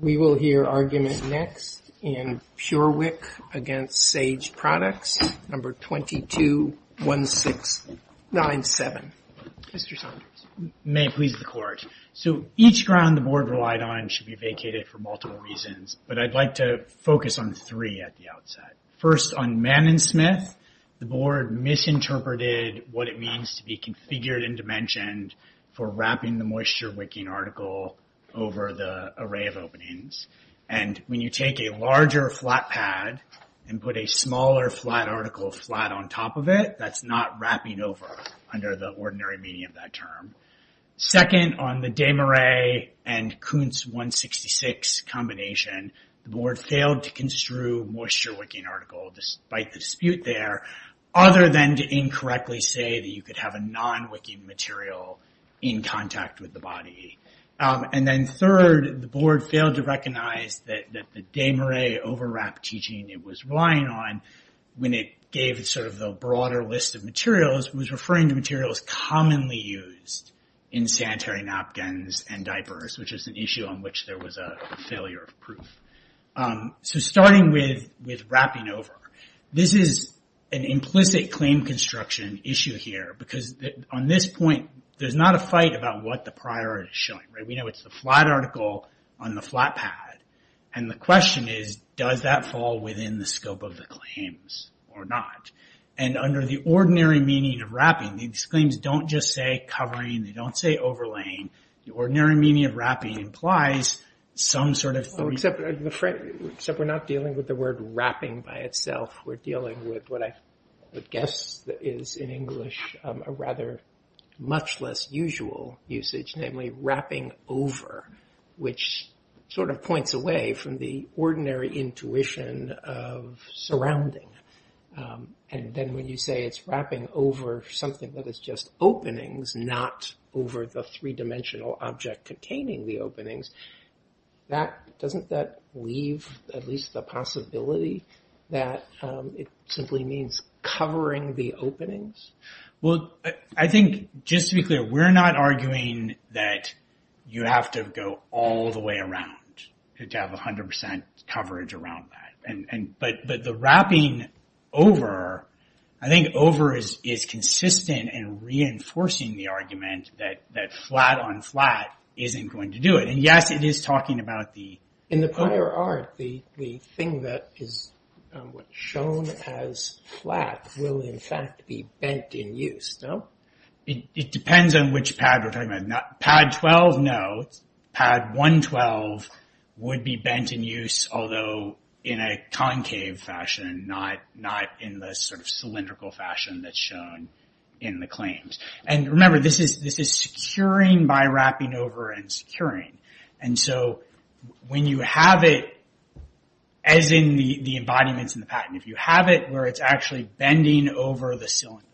We will hear argument next in PureWick against Sage Products, number 221697. Mr. Saunders. May it please the court. So each ground the board relied on should be vacated for multiple reasons, but I'd like to focus on three at the outset. First, on Mann & Smith, the board misinterpreted what it means to be configured and dimensioned for wrapping the and when you take a larger flat pad and put a smaller flat article flat on top of it, that's not wrapping over under the ordinary meaning of that term. Second, on the Desmarais and Kuntz 166 combination, the board failed to construe moisture wicking article despite the dispute there, other than to incorrectly say that you could have a non-wicking material in contact with the body. And then third, the board failed to recognize that the Desmarais overwrap teaching it was relying on when it gave sort of the broader list of materials was referring to materials commonly used in sanitary napkins and diapers, which is an issue on which there was a failure of proof. So starting with wrapping over, this is an implicit claim construction issue here, because on this point, there's not a fight about what the priority is showing, right? We know it's the flat article on the flat pad. And the question is, does that fall within the scope of the claims or not? And under the ordinary meaning of wrapping, these claims don't just say covering, they don't say overlaying. The ordinary meaning of wrapping implies some sort of... Except we're not dealing with the word wrapping by itself, we're dealing with what I guess is in English a rather much less usual usage, namely wrapping over, which sort of points away from the ordinary intuition of surrounding. And then when you say it's wrapping over something that is just openings, not over the three-dimensional object containing the openings, doesn't that leave at least the possibility that it simply means covering the openings? Well, I think just to be clear, we're not arguing that you have to go all the way around to have 100% coverage around that. But the wrapping over, I think over is consistent in reinforcing the argument that flat on flat isn't going to do it. And yes, it is talking about the... In the prior art, the thing that is shown as flat will in fact be bent in use, no? It depends on which pad we're talking about. Pad 12, no. Pad 112 would be bent in use, although in a concave fashion, not in the sort of cylindrical fashion that's shown in the claims. And remember, this is securing by wrapping over and securing. And so when you have it as in the embodiments in the patent, if you have it where it's actually bending over the cylinder,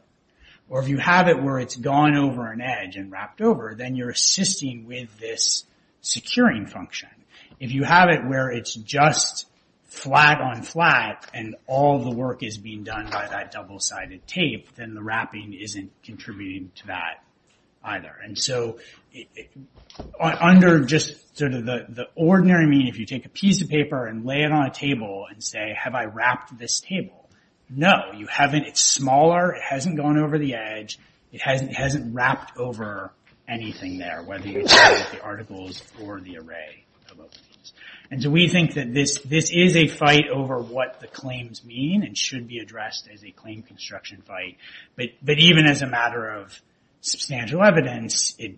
or if you have it where it's gone over an edge and wrapped over, then you're assisting with this flat on flat and all the work is being done by that double-sided tape, then the wrapping isn't contributing to that either. And so under just sort of the ordinary meaning, if you take a piece of paper and lay it on a table and say, have I wrapped this table? No, you haven't. It's smaller. It hasn't gone over the edge. It hasn't wrapped over anything there, whether you look at the articles or the array of openings. And so we think that this is a fight over what the claims mean and should be addressed as a claim construction fight. But even as a matter of substantial evidence, it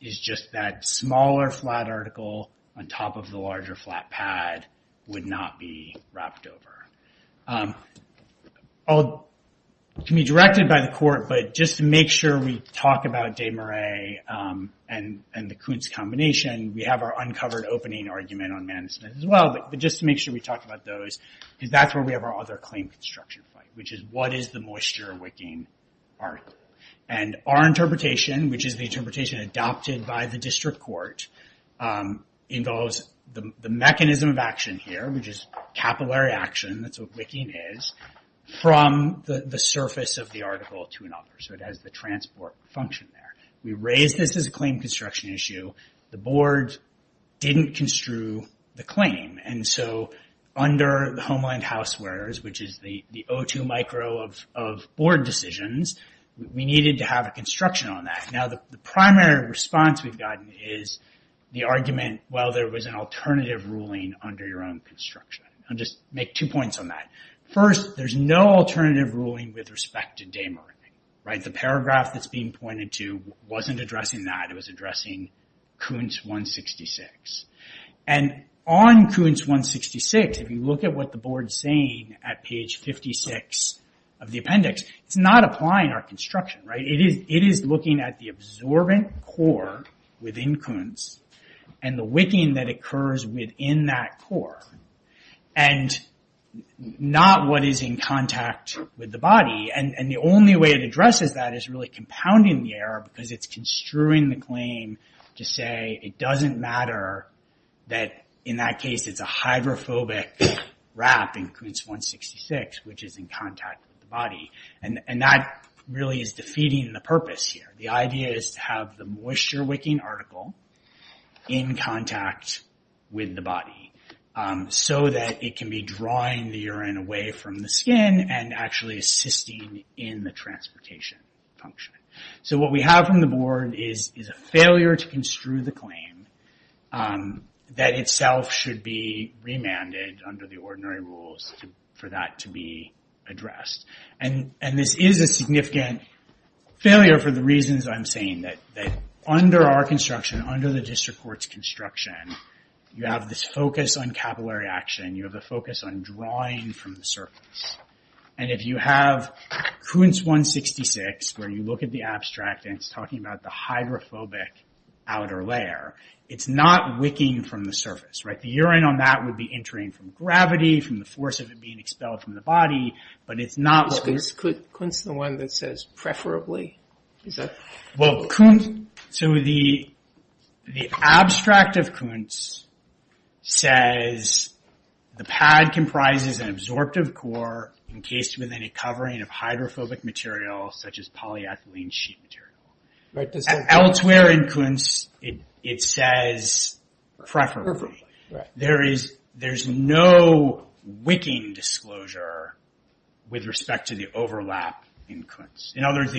is just that smaller flat article on top of the larger flat pad would not be wrapped over. It can be directed by the court, but just to make sure we talk about combination, we have our uncovered opening argument on management as well. But just to make sure we talk about those, because that's where we have our other claim construction fight, which is what is the moisture wicking article? And our interpretation, which is the interpretation adopted by the district court, involves the mechanism of action here, which is capillary action, that's what wicking is, from the surface of the article to another. So it has the transport function there. We raise this as a claim construction issue. The board didn't construe the claim. And so under the Homeland Housewares, which is the O2 micro of board decisions, we needed to have a construction on that. Now, the primary response we've gotten is the argument, well, there was an alternative ruling under your own construction. I'll just make two points on that. First, there's no alternative ruling with respect to day marketing, right? The paragraph that's being pointed to wasn't addressing that. It was addressing Kuntz 166. And on Kuntz 166, if you look at what the board's saying at page 56 of the appendix, it's not applying our construction, right? It is looking at the absorbent core within Kuntz and the wicking that occurs within that core, and not what is in contact with the body. And the only way it addresses that is really compounding the error because it's construing the claim to say it doesn't matter that in that case, it's a hydrophobic wrap in Kuntz 166, which is in contact with the body. And that really is defeating the purpose here. The idea is to have the moisture wicking article in contact with the body so that it can be drawing the urine away from the skin and actually assisting in the transportation function. So what we have from the board is a failure to construe the claim that itself should be remanded under the ordinary rules for that to be addressed. And this is a significant failure for the reasons I'm saying that under our construction, under the district court's construction, you have this focus on capillary action. You have a focus on drawing from the surface. And if you have Kuntz 166, where you look at the abstract and it's talking about the hydrophobic outer layer, it's not wicking from the surface, right? The urine on that would be entering from gravity, from the force of it being expelled from the body, but it's not- Kuntz is the one that says preferably? Well, Kuntz, so the abstract of Kuntz says the pad comprises an absorptive core encased within a covering of hydrophobic material such as polyethylene sheet material. Elsewhere in Kuntz, it says preferably. There's no wicking disclosure with respect to the overlap in Kuntz. In other words,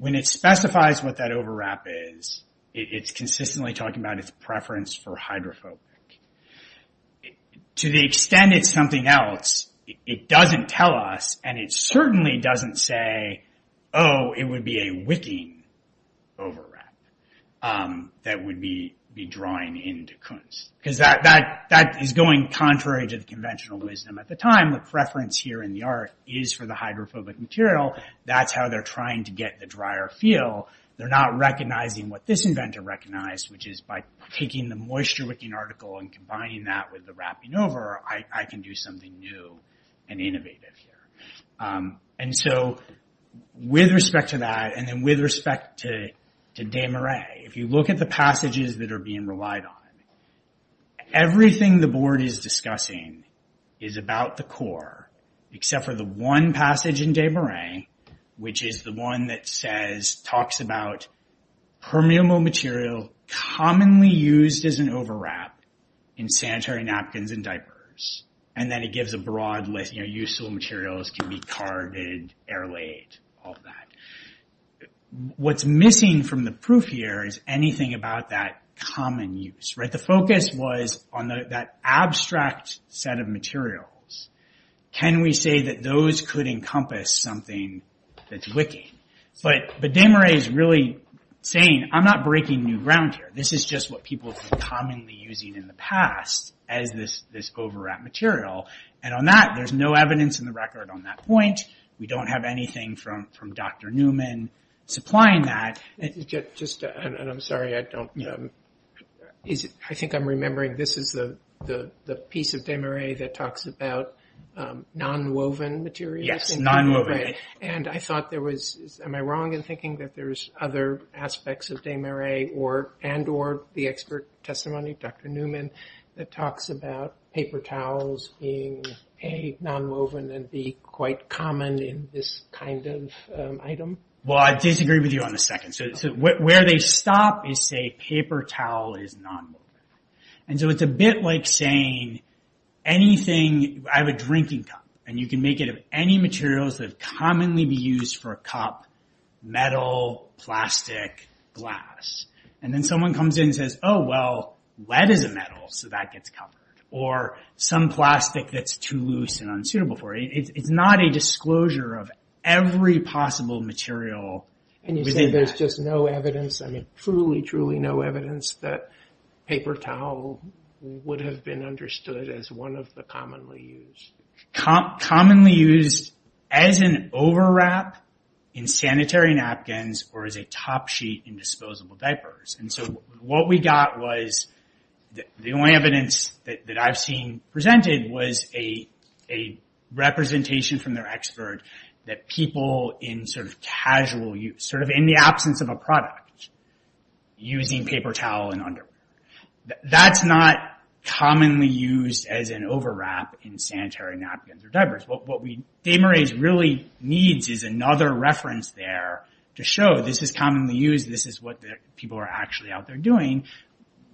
when it specifies what that overwrap is, it's consistently talking about its preference for hydrophobic. To the extent it's something else, it doesn't tell us, and it certainly doesn't say, oh, it would be a wicking overwrap that would be drawing into Kuntz. Because that is going contrary to the conventional wisdom at the time, the preference here in the art is for the hydrophobic material. That's how they're trying to get the drier feel. They're not recognizing what this inventor recognized, which is by taking the moisture wicking article and combining that with the wrapping over, I can do something new and innovative here. With respect to that, and then with respect to Kuntz, everything the board is discussing is about the core, except for the one passage in Des Moines, which is the one that talks about permeable material commonly used as an overwrap in sanitary napkins and diapers. Then it gives a broad list. Useful materials can be carded, air laid, all of that. What's missing from the proof here is anything about that common use. The focus was on that abstract set of materials. Can we say that those could encompass something that's wicking? But Des Moines is really saying, I'm not breaking new ground here. This is just what people have been commonly using in the past as this overwrap material. On that, there's no evidence in the record on that point. We don't have anything from Dr. Newman supplying that. I'm sorry, I think I'm remembering this is the piece of Des Moines that talks about non-woven materials. Yes, non-woven. Am I wrong in thinking that there's other aspects of Des Moines and or the expert testimony of Dr. A non-woven and B quite common in this kind of item? Well, I disagree with you on the second. Where they stop is say paper towel is non-woven. It's a bit like saying anything, I have a drinking cup and you can make it of any materials that commonly be used for a cup, metal, plastic, glass. Then someone comes in and says, oh, well, lead is a metal, so that gets covered or some plastic that's too loose and unsuitable for it. It's not a disclosure of every possible material. And you say there's just no evidence. I mean, truly, truly no evidence that paper towel would have been understood as one of the commonly used. Commonly used as an overwrap in sanitary napkins or as a top sheet in disposable diapers. And so what we got was the only evidence that I've seen presented was a representation from their expert that people in sort of casual use, sort of in the absence of a product, using paper towel and underwear. That's not commonly used as an overwrap in sanitary napkins or diapers. What Des Moines really needs is another reference there to show this is commonly used. This is what people are actually out there doing,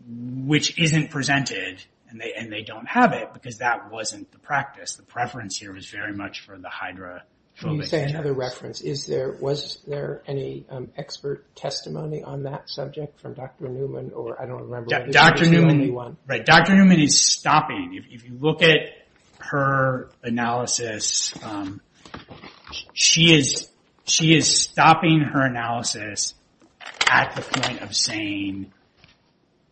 which isn't presented and they don't have it because that wasn't the practice. The preference here was very much for the hydrophobic. Can you say another reference? Was there any expert testimony on that subject from Dr. Newman or I don't remember? Dr. Newman is stopping. If you look at her analysis, she is stopping her at the point of saying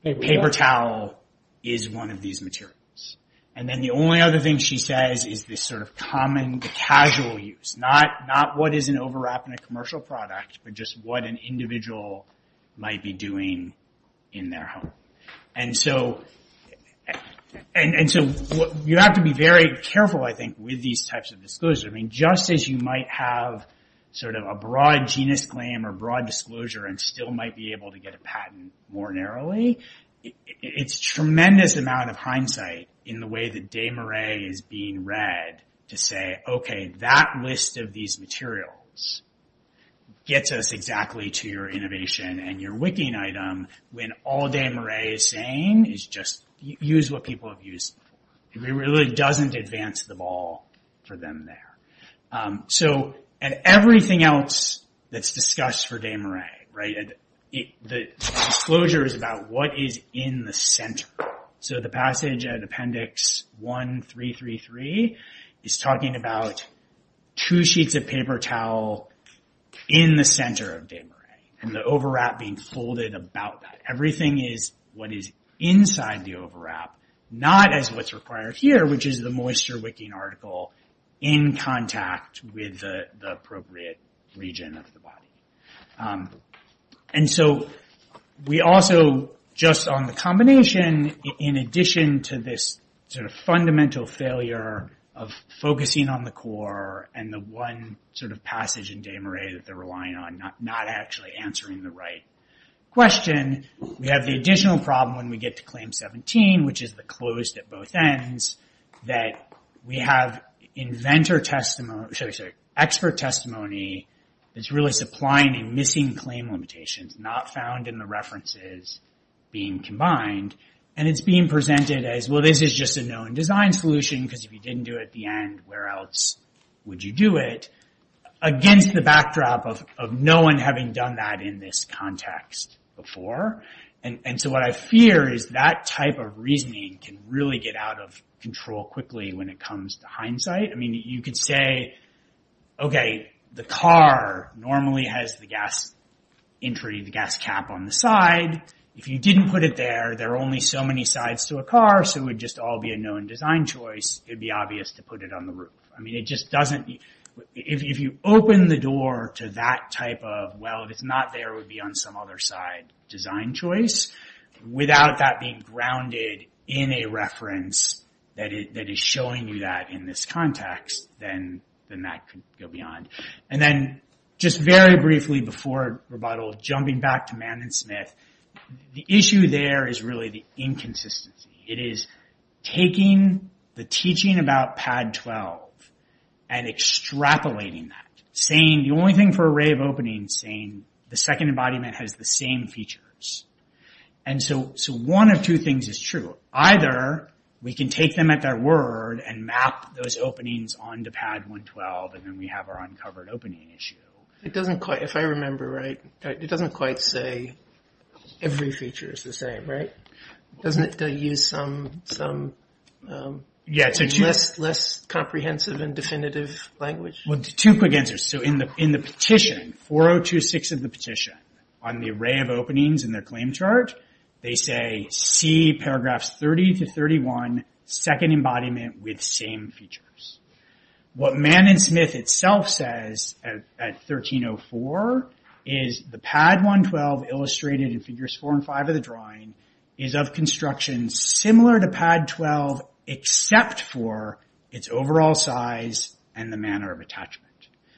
paper towel is one of these materials. And then the only other thing she says is this sort of common casual use. Not what is an overwrap in a commercial product, but just what an individual might be doing in their home. And so you have to be very careful, I think, with these types of disclosures. I mean, just as you might have sort of a broad claim or broad disclosure and still might be able to get a patent more narrowly, it's a tremendous amount of hindsight in the way that Des Moines is being read to say, okay, that list of these materials gets us exactly to your innovation and your wicking item when all Des Moines is saying is just use what people have used before. It really doesn't advance the ball for them there. And everything else that's discussed for Des Moines, the disclosure is about what is in the center. So the passage at appendix 1333 is talking about two sheets of paper towel in the center of Des Moines and the overwrap being folded about that. Everything is what is inside the overwrap, not as what's required here, which is the moisture wicking article in contact with the appropriate region of the body. And so we also, just on the combination, in addition to this sort of fundamental failure of focusing on the core and the one sort of passage in Des Moines that they're relying on, not actually answering the right question, we have the additional problem when we get to claim 17, which is the closed at both ends, that we have expert testimony that's really supplying and missing claim limitations, not found in the references being combined. And it's being presented as, well, this is just a known design solution because if you didn't do it at the end, where else would you do it? Against the backdrop of no one having done that in this context before. And so what I fear is that type of reasoning can really get out of control quickly when it comes to hindsight. I mean, you could say, okay, the car normally has the gas entry, the gas cap on the side. If you didn't put it there, there are only so many sides to a car, so it would just all be a known design choice. It'd be obvious to put it on the roof. I mean, it just doesn't... If you open the door to that type of, well, if it's not there, it would be on some other side design choice, without that being grounded in a reference that is showing you that in this context, then that could go beyond. And then just very briefly before rebuttal, jumping back to Mann and Smith, the issue there is really the inconsistency. It is taking the teaching about Pad 12 and extrapolating that, saying the only thing for array of openings, saying the second embodiment has the same features. And so one of two things is true. Either we can take them at their word and map those openings onto Pad 112, and then we have our answer. It doesn't quite say every feature is the same, right? Doesn't it use some less comprehensive and definitive language? Well, two quick answers. So in the petition, 4026 of the petition on the array of openings in their claim chart, they say, see paragraphs 30 to 31, second embodiment with same features. What Mann and Smith itself says at 1304 is the Pad 112 illustrated in Figures 4 and 5 of the drawing is of construction similar to Pad 12, except for its overall size and the manner of attachment.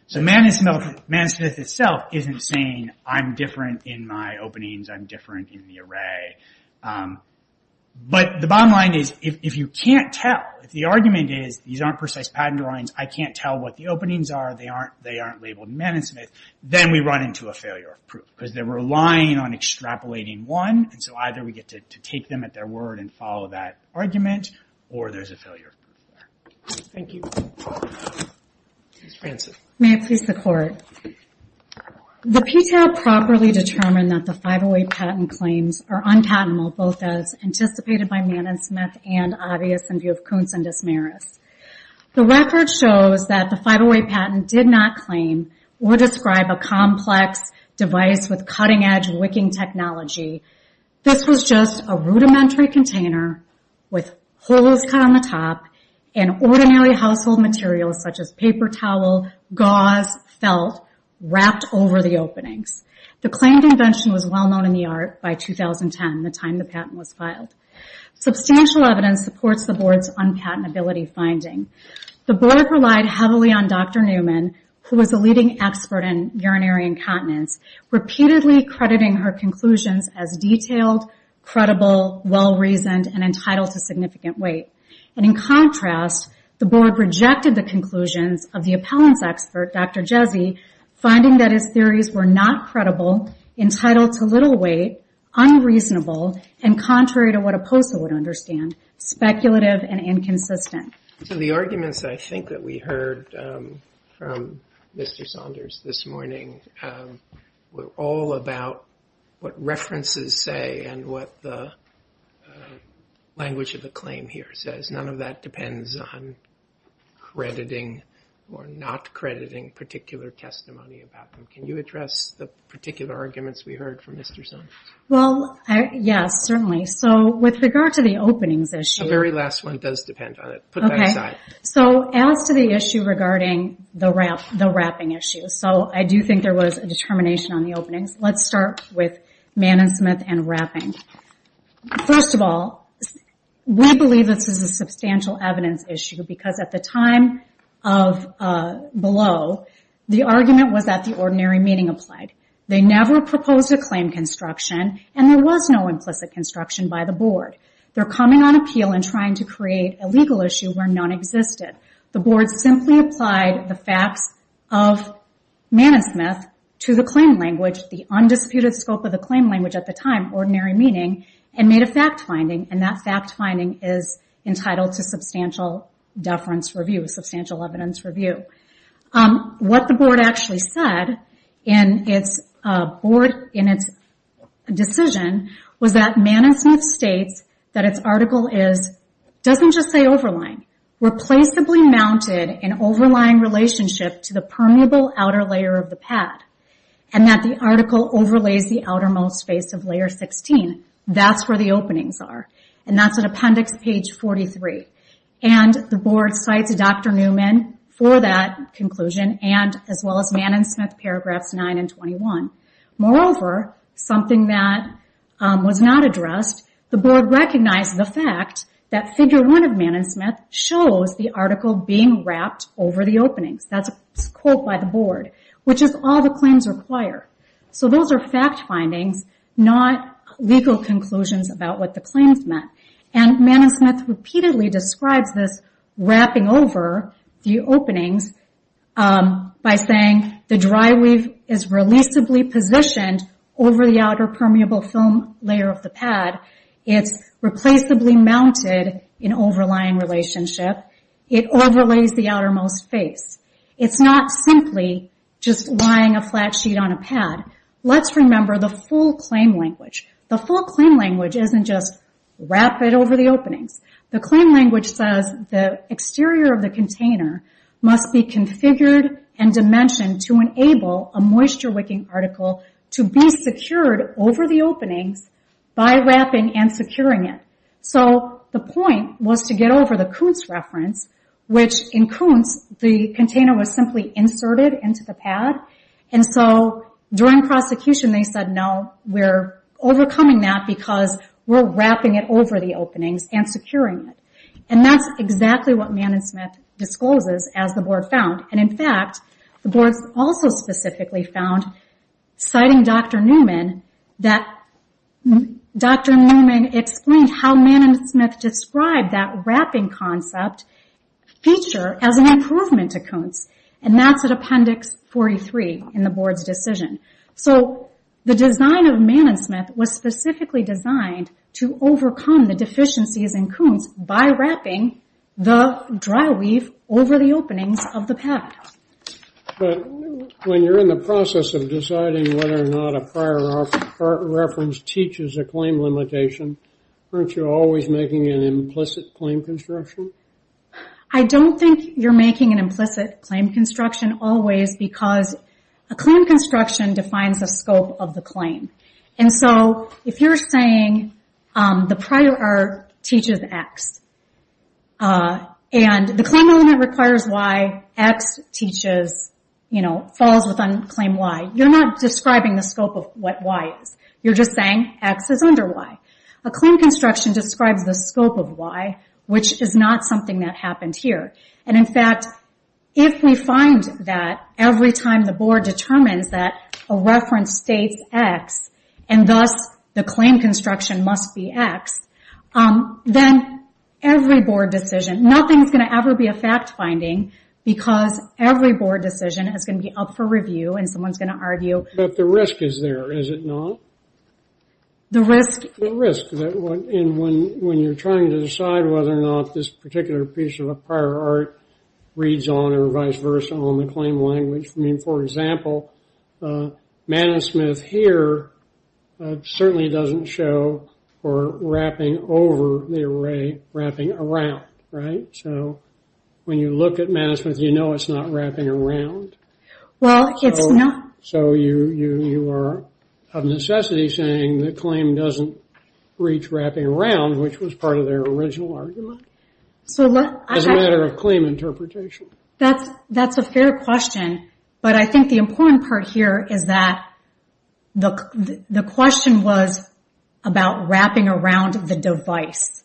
So Mann and Smith itself isn't saying, I'm different in my openings, I'm different in the array. But the bottom line is, if you can't tell, if the argument is, these aren't precise patent drawings, I can't tell what the openings are, they aren't labeled Mann and Smith, then we run into a failure of proof. Because they're relying on extrapolating one, and so either we get to take them at their word and follow that argument, or there's a failure of proof there. Thank you. Ms. Franzen. May it please the Court. The PTAL properly determined that the 508 patent claims are unpatentable, both as anticipated by Mann and Smith and obvious in view of Kuntz and Desmarais. The record shows that the 508 patent did not claim or describe a complex device with cutting-edge wicking technology. This was just a rudimentary container with holes cut on the top and ordinary household materials such as paper towel, gauze, felt, wrapped over the openings. The claimed invention was well substantial evidence supports the Board's unpatentability finding. The Board relied heavily on Dr. Newman, who was a leading expert in urinary incontinence, repeatedly crediting her conclusions as detailed, credible, well-reasoned, and entitled to significant weight. And in contrast, the Board rejected the conclusions of the appellants expert, Dr. Jezzy, finding that his theories were not credible, entitled to little weight, unreasonable, and contrary to what a POSA would understand, speculative and inconsistent. So the arguments I think that we heard from Mr. Saunders this morning were all about what references say and what the language of the claim here says. None of that depends on crediting or not crediting particular testimony about them. Can you address the particular arguments we heard from Mr. Saunders? Well, yes, certainly. So with regard to the openings issue... The very last one does depend on it. Put that aside. So as to the issue regarding the wrapping issue, so I do think there was a determination on the openings. Let's start with Mann & Smith and wrapping. First of all, we believe this is a substantial evidence issue because at the time below, the argument was that the ordinary meaning applied. They never proposed a claim construction and there was no implicit construction by the Board. They're coming on appeal and trying to create a legal issue where none existed. The Board simply applied the facts of Mann & Smith to the claim language, the undisputed scope of the claim language at the time, ordinary meaning, and made a fact finding. And that fact finding is entitled to substantial deference review, substantial evidence review. What the Board actually said in its decision was that Mann & Smith states that its article is, doesn't just say overlying, replaceably mounted in overlying relationship to the permeable outer layer of the pad. And that the article overlays the outermost face of layer 16. That's where the conclusion and as well as Mann & Smith paragraphs 9 and 21. Moreover, something that was not addressed, the Board recognized the fact that figure one of Mann & Smith shows the article being wrapped over the openings. That's a quote by the Board, which is all the claims require. So those are fact findings, not legal conclusions about what the claims meant. And Mann & Smith repeatedly describes this wrapping over the openings by saying the dry weave is releasably positioned over the outer permeable film layer of the pad. It's replaceably mounted in overlying relationship. It overlays the outermost face. It's not simply just lying a flat sheet on a pad. Let's remember the full claim language isn't just wrap it over the openings. The claim language says the exterior of the container must be configured and dimensioned to enable a moisture wicking article to be secured over the openings by wrapping and securing it. So the point was to get over the Kuntz reference, which in Kuntz the container was simply inserted into the pad. And so during prosecution they said we're overcoming that because we're wrapping it over the openings and securing it. And that's exactly what Mann & Smith discloses as the Board found. And in fact, the Board also specifically found, citing Dr. Newman, that Dr. Newman explained how Mann & Smith described that wrapping concept feature as an improvement to Kuntz. And that's at Appendix 43 in the Board's decision. So the design of Mann & Smith was specifically designed to overcome the deficiencies in Kuntz by wrapping the dry weave over the openings of the pad. But when you're in the process of deciding whether or not a prior art reference teaches a claim limitation, aren't you always making an implicit claim construction? I don't think you're making an implicit claim construction always because a claim construction defines the scope of the claim. And so if you're saying the prior art teaches X, and the claim element requires Y, X teaches, you know, falls within claim Y, you're not describing the scope of what Y is. You're just saying X is under Y. A claim construction describes the something that happened here. And in fact, if we find that every time the Board determines that a reference states X, and thus the claim construction must be X, then every Board decision, nothing's going to ever be a fact-finding, because every Board decision is going to be up for review, and someone's going to argue... But the risk is there, is it not? The risk? The risk. And when you're trying to decide whether or not this particular piece of a prior art reads on, or vice versa, on the claim language. I mean, for example, manusmith here certainly doesn't show for wrapping over the array, wrapping around, right? So when you look at manusmith, you know it's not wrapping around. Well, it's not. So you are of necessity saying the claim doesn't reach wrapping around, which was part of their original argument, as a matter of claim interpretation. That's a fair question. But I think the important part here is that the question was about wrapping around the device.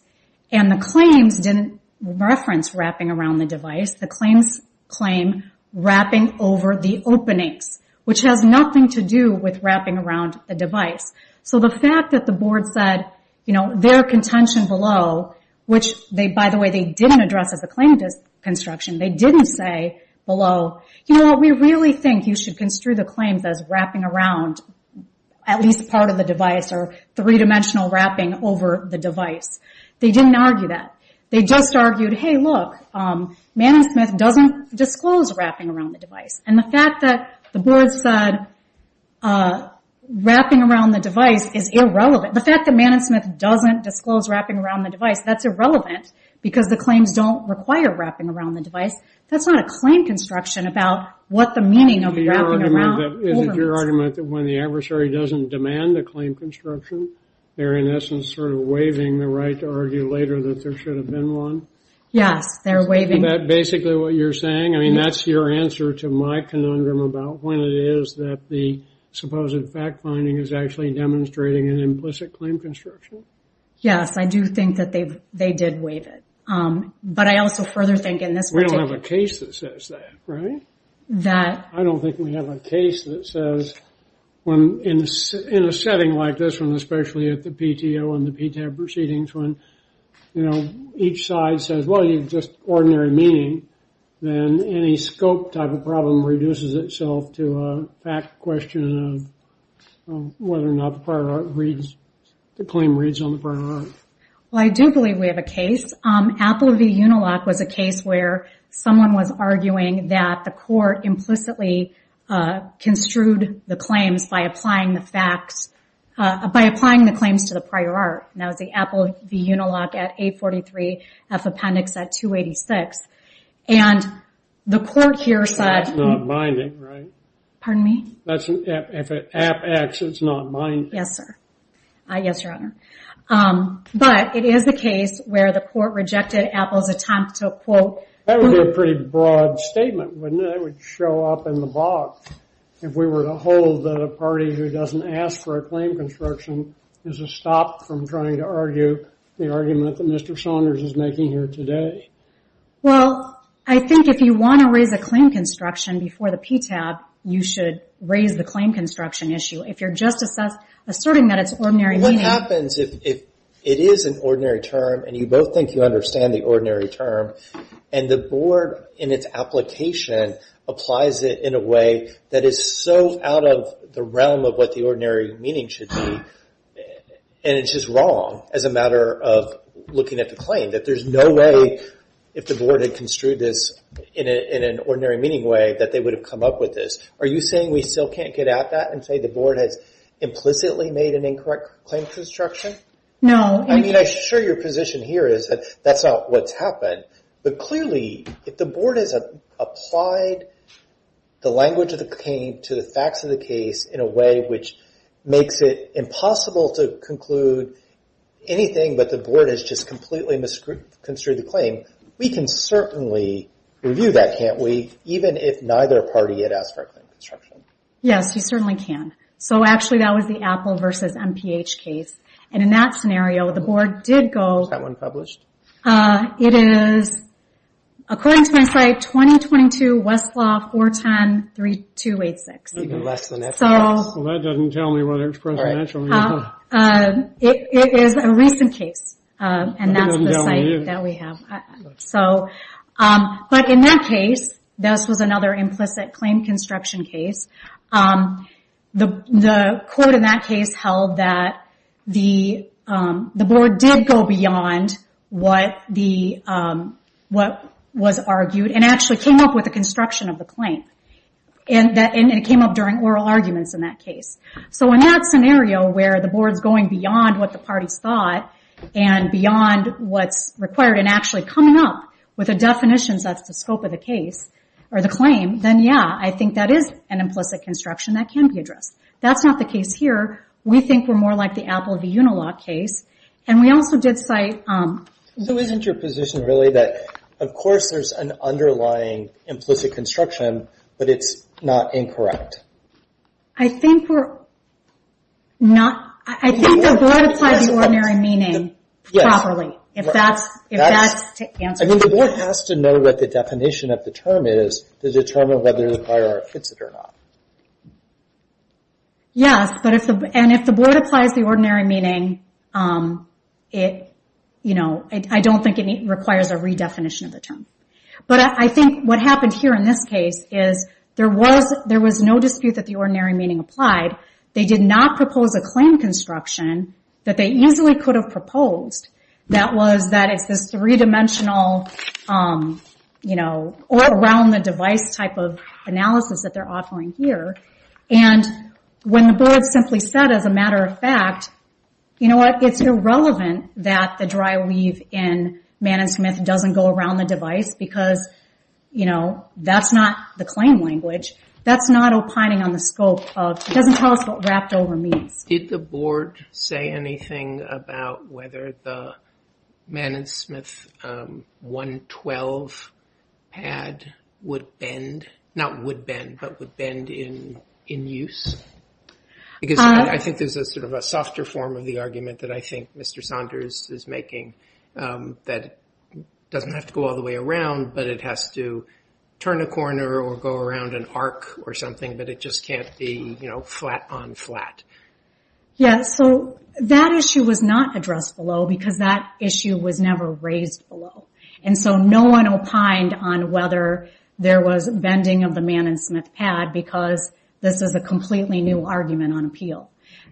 And the claims didn't reference wrapping around the device. The claims claim wrapping over the openings, which has nothing to do with wrapping around the device. So the fact that the Board said, you know, their contention below, which they, by the way, they didn't address as a claim to construction. They didn't say below, you know what, we really think you should construe the claims as wrapping around at least part of the device or three dimensional wrapping over the device. They didn't argue that. They just argued, hey, look, manusmith doesn't disclose wrapping around the device. And the fact that the Board said wrapping around the device is irrelevant. The fact that manusmith doesn't disclose wrapping around the device, that's irrelevant because the claims don't require wrapping around the device. That's not a claim construction about what the meaning of wrapping around. Is it your argument that when the adversary doesn't demand a claim construction, they're in essence sort of waiving the right to argue later that there should have been one? Yes, they're waiving. Is that basically what you're saying? I mean, that's your answer to my conundrum about when it is that the supposed fact finding is actually demonstrating an implicit claim construction? Yes, I do think that they've, they did waive it. But I also further think in this. We don't have a case that says that, right? That. I don't think we have a case that says when in a setting like this one, especially at the PTO and you know, each side says, well, you've just ordinary meaning, then any scope type of problem reduces itself to a fact question of whether or not the prior art reads, the claim reads on the prior art. Well, I do believe we have a case. Apple v. Unilock was a case where someone was arguing that the court implicitly construed the claims by applying the facts, by applying the claims to the prior art. That was the Apple v. Unilock at 843 F Appendix at 286. And the court here said. That's not binding, right? Pardon me? That's, if it app acts, it's not binding. Yes, sir. Yes, your honor. But it is the case where the court rejected Apple's attempt to quote. That would be a pretty broad statement, wouldn't it? It would show up in the box. If we were to hold that a party who doesn't ask for a claim construction is a stop from trying to argue the argument that Mr. Saunders is making here today. Well, I think if you want to raise a claim construction before the PTAB, you should raise the claim construction issue. If you're just asserting that it's ordinary. What happens if it is an ordinary term and you both think you understand the ordinary term and the board in its application applies it in a way that is so out of the realm of what the and it's just wrong as a matter of looking at the claim. That there's no way if the board had construed this in an ordinary meaning way that they would have come up with this. Are you saying we still can't get at that and say the board has implicitly made an incorrect claim construction? No. I mean, I'm sure your position here is that that's not what's happened. But clearly, if the board has applied the language of the claim to the facts of the case in a way which makes it impossible to conclude anything, but the board has just completely misconstrued the claim, we can certainly review that, can't we? Even if neither party had asked for a claim construction. Yes, you certainly can. So actually, that was the Apple versus MPH case. And in that scenario, the board did go... Is that one published? It is, according to my site, 2022 West Law 410-3286. That doesn't tell me whether it's presidential or not. It is a recent case, and that's the site that we have. But in that case, this was another implicit claim construction case. The court in that case held that the board did go beyond what was argued and actually came up with the construction of the claim. And it came up during oral arguments in that case. So in that scenario where the board's going beyond what the parties thought and beyond what's required and actually coming up with a definition that's the scope of the case or the claim, then yeah, I think that is an implicit construction that can be addressed. That's not the case here. We think we're more like the Apple v. Unilock case. And we also did cite... So isn't your position really that, of course, there's an underlying implicit construction, but it's not incorrect? I think we're not... I think the board applies the ordinary meaning properly, if that's to answer the question. I mean, the board has to know what the definition of the term is to determine whether or not it fits it or not. Yes. And if the board applies the ordinary meaning, it requires a redefinition of the term. But I think what happened here in this case is there was no dispute that the ordinary meaning applied. They did not propose a claim construction that they easily could have proposed. That was that it's this three-dimensional all-around-the-device type of analysis that they're offering here. And when the board simply said, as a matter of fact, you know what? It's irrelevant that the dry weave in Mann & Smith doesn't go around the device because that's not the claim language. That's not opining on the scope of... It doesn't tell us what wrapped over means. Did the board say anything about whether the Mann & Smith 112 pad would bend? Not would bend, but would bend in use? Because I think there's a sort of a softer form of the argument that I think Mr. Saunders is making that it doesn't have to go all the way around, but it has to turn a corner or go around an arc or something, but it just can't be, you know, flat on flat. Yeah. So that issue was not addressed below because that issue was never raised below. And so no one opined on whether there was bending of the Mann & Smith pad because this is a completely new argument on appeal.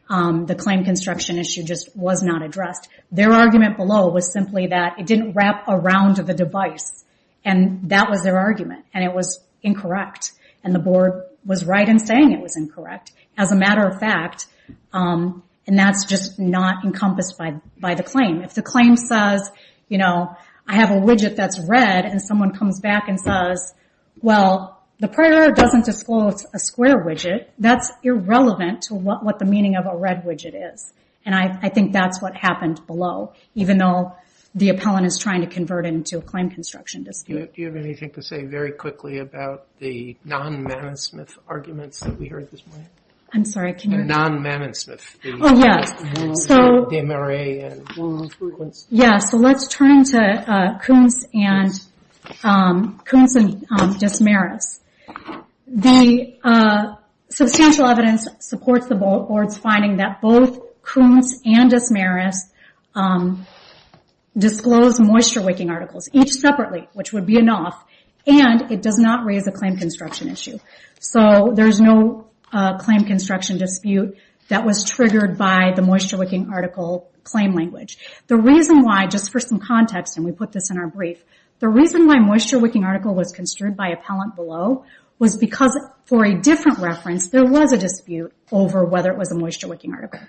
The claim construction issue just was not addressed. Their argument below was simply that it didn't wrap around the device. And that was their argument. And it was incorrect. And the board was right in saying it was incorrect, as a matter of fact. And that's just not encompassed by the claim. If the claim says, you know, I have a widget that's red, and someone comes back and says, well, the prior doesn't disclose a square widget, that's irrelevant to what the meaning of a red widget is. And I think that's what happened below, even though the appellant is trying to convert into a claim construction dispute. Do you have anything to say very quickly about the non-Mann & Smith arguments that we heard this morning? I'm sorry, can you- Non-Mann & Smith. Oh, yes. So let's turn to Koontz and Desmarais. The substantial evidence supports the board's finding that both Koontz and Desmarais disclosed moisture wicking articles, each separately, which would be enough. And it does not raise a claim construction issue. So there's no claim construction dispute that was triggered by the moisture wicking article claim language. The reason why, just for some context, and we put this in our brief, the reason why moisture wicking article was construed by appellant below was because, for a different reference, there was a dispute over whether it was a moisture wicking article.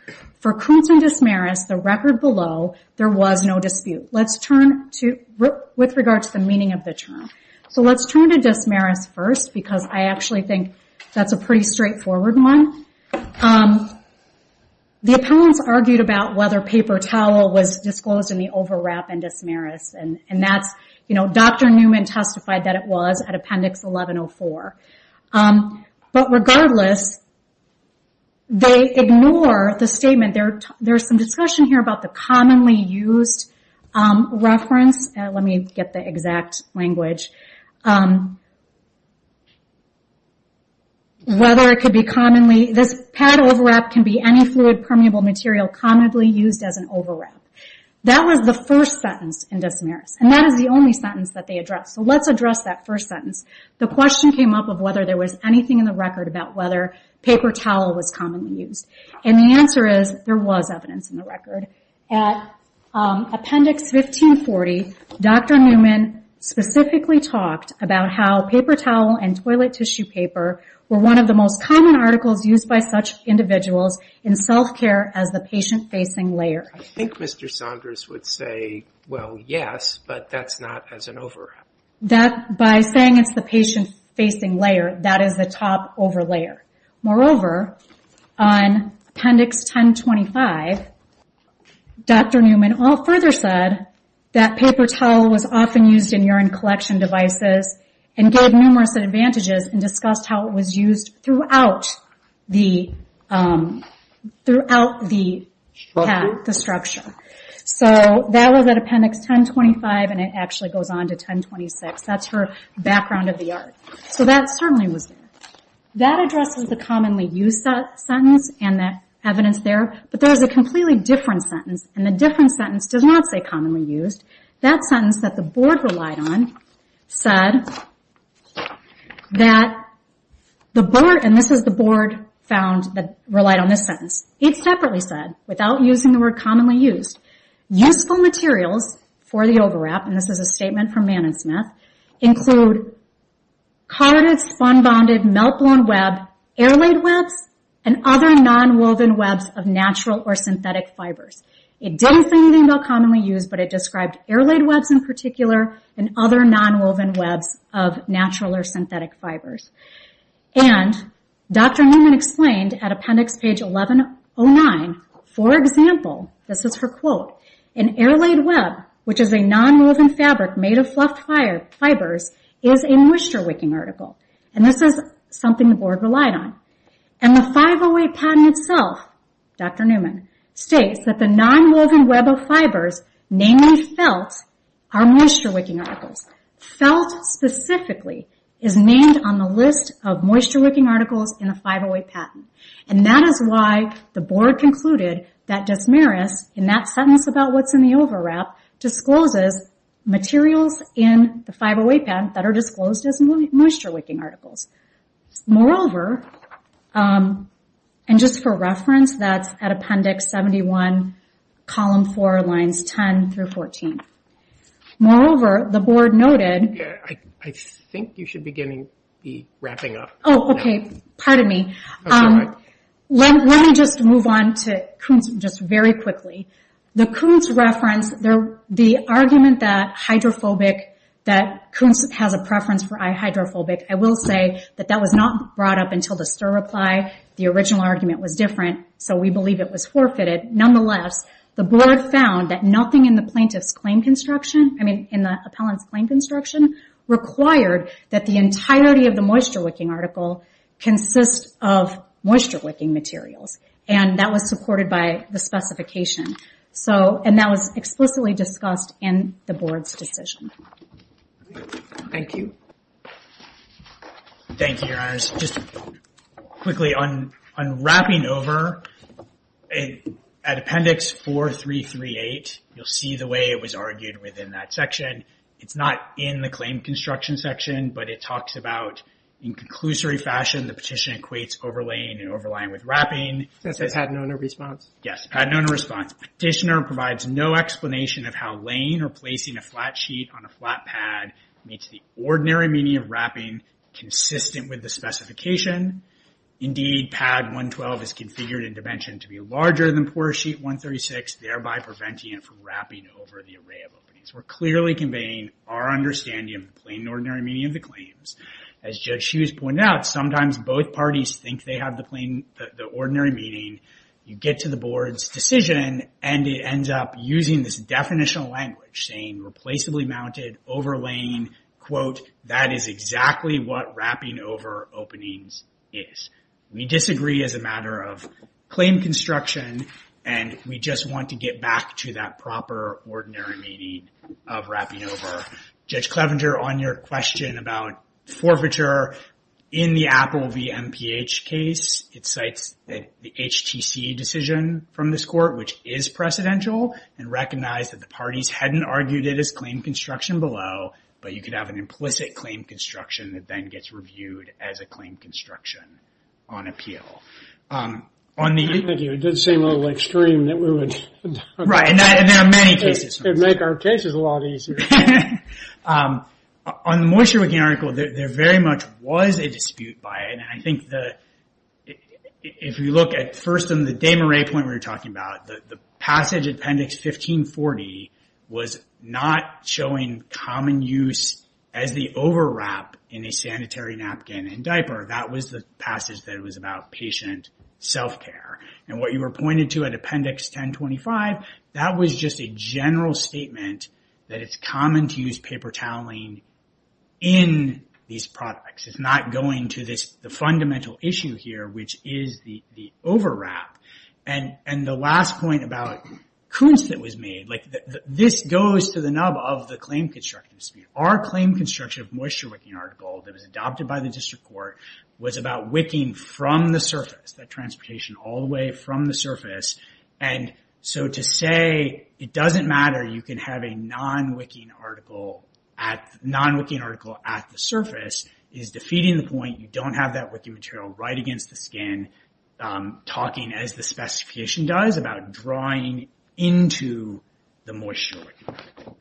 For Koontz and Desmarais, the record below, there was no dispute. Let's turn to- with regard to the meaning of the term. So let's turn to Desmarais first, because I The appellants argued about whether paper towel was disclosed in the overwrap in Desmarais, and that's, you know, Dr. Newman testified that it was at Appendix 1104. But regardless, they ignore the statement. There's some discussion here about the commonly used reference. Let me get the exact language. Whether it could be commonly- this pad overwrap can be any fluid permeable material commonly used as an overwrap. That was the first sentence in Desmarais, and that is the only sentence that they address. So let's address that first sentence. The question came up of whether there was anything in the record about whether paper towel was commonly used. And the answer is there was evidence in the record. At Appendix 1540, Dr. Newman specifically talked about how paper towel and toilet tissue paper were one of the most common articles used by such individuals in self-care as the patient facing layer. I think Mr. Saunders would say, well, yes, but that's not as an overwrap. That- by saying it's the patient facing layer, that is the top over layer. Moreover, on Appendix 1025, Dr. Newman all further said that paper towel was often used in urine collection devices and gave numerous advantages and discussed how it was used throughout the structure. So that was at Appendix 1025, and it actually goes on to 1026. That's her background of the art. So that certainly was there. That addresses the commonly used sentence and the evidence there, but there's a completely different sentence, and the different sentence does not say commonly used. That sentence that the board relied on said that the board- and this is the board found that relied on this sentence. It separately said, without using the word commonly used, useful materials for the fun-bonded melt-blown web, air-laid webs, and other non-woven webs of natural or synthetic fibers. It didn't say anything about commonly used, but it described air-laid webs in particular and other non-woven webs of natural or synthetic fibers. And Dr. Newman explained at Appendix page 1109, for example, this is her quote, an air-laid web, which is a non-woven fabric made of fluffed fibers, is a moisture-wicking article. And this is something the board relied on. And the 508 patent itself, Dr. Newman states that the non-woven web of fibers, namely felt, are moisture-wicking articles. Felt specifically is named on the list of moisture-wicking articles in the 508 patent. And that is why the board concluded that Desmarais, in that sentence about what's in the overwrap, discloses materials in the 508 patent that are disclosed as moisture-wicking articles. Moreover, and just for reference, that's at Appendix 71, column 4, lines 10 through 14. Moreover, the board noted... Yeah, I think you should be wrapping up. Oh, okay. Pardon me. That's all right. Let me just move on to Kuntz just very quickly. The Kuntz reference, the argument that hydrophobic, that Kuntz has a preference for i-hydrophobic, I will say that that was not brought up until the STIR reply. The original argument was different, so we believe it was forfeited. Nonetheless, the board found that nothing in the plaintiff's claim construction, I mean, in the appellant's claim construction, required that the entirety of the moisture-wicking article consist of moisture-wicking materials, and that was supported by the specification. And that was explicitly discussed in the board's decision. Thank you. Thank you, Your Honors. Just quickly, on wrapping over, at Appendix 4338, you'll see the way it was argued within that section. It's not in the claim construction section, but it talks about, in conclusory fashion, the petition equates overlaying and overlying with wrapping. That's the Padnona response. Yes, Padnona response. Petitioner provides no explanation of how laying or placing a flat sheet on a flat pad meets the ordinary meaning of wrapping consistent with the specification. Indeed, Pad 112 is configured intervention to be larger than Porter Sheet 136, thereby preventing it from wrapping over the array of openings. We're clearly conveying our understanding of plain and ordinary meaning of the claims. As Judge Hughes pointed out, sometimes both parties think they have the ordinary meaning. You get to the board's decision, and it ends up using this definitional language, saying replaceably mounted, overlaying, quote, that is exactly what wrapping over openings is. We disagree as a matter of claim construction, and we just want to get back to that proper ordinary meaning of wrapping over. Judge Clevenger, on your question about forfeiture in the Apple v. MPH case, it cites the HTC decision from this court, which is precedential, and recognized that the parties hadn't argued it as claim construction below, but you could have an implicit claim construction that then gets reviewed as a claim construction on appeal. Thank you. It did seem a little extreme that we would... Right, and there are many cases... Make our cases a lot easier. On the Moisture Wicking article, there very much was a dispute by it, and I think that if you look at first on the Dame Array point we were talking about, the passage in Appendix 1540 was not showing common use as the overwrap in a sanitary napkin and diaper. That was the passage that was about patient self-care. What you were pointing to at Appendix 1025, that was just a general statement that it's common to use paper toweling in these products. It's not going to the fundamental issue here, which is the overwrap. And the last point about Koontz that was made, this goes to the nub of the claim construction dispute. Our claim construction of Moisture Wicking article that was adopted by the district court was about wicking from the surface, that transportation all the way from the surface, and so to say it doesn't matter, you can have a non-wicking article at the surface, is defeating the point. You don't have that wicking material right against the skin, talking as the specification does, about drawing into the Moisture Wicking article.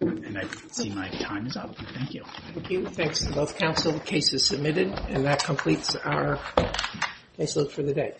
And I see my time is up. Thank you. Thank you. Thanks to both counsel. The case is submitted, and that completes our case look for the day.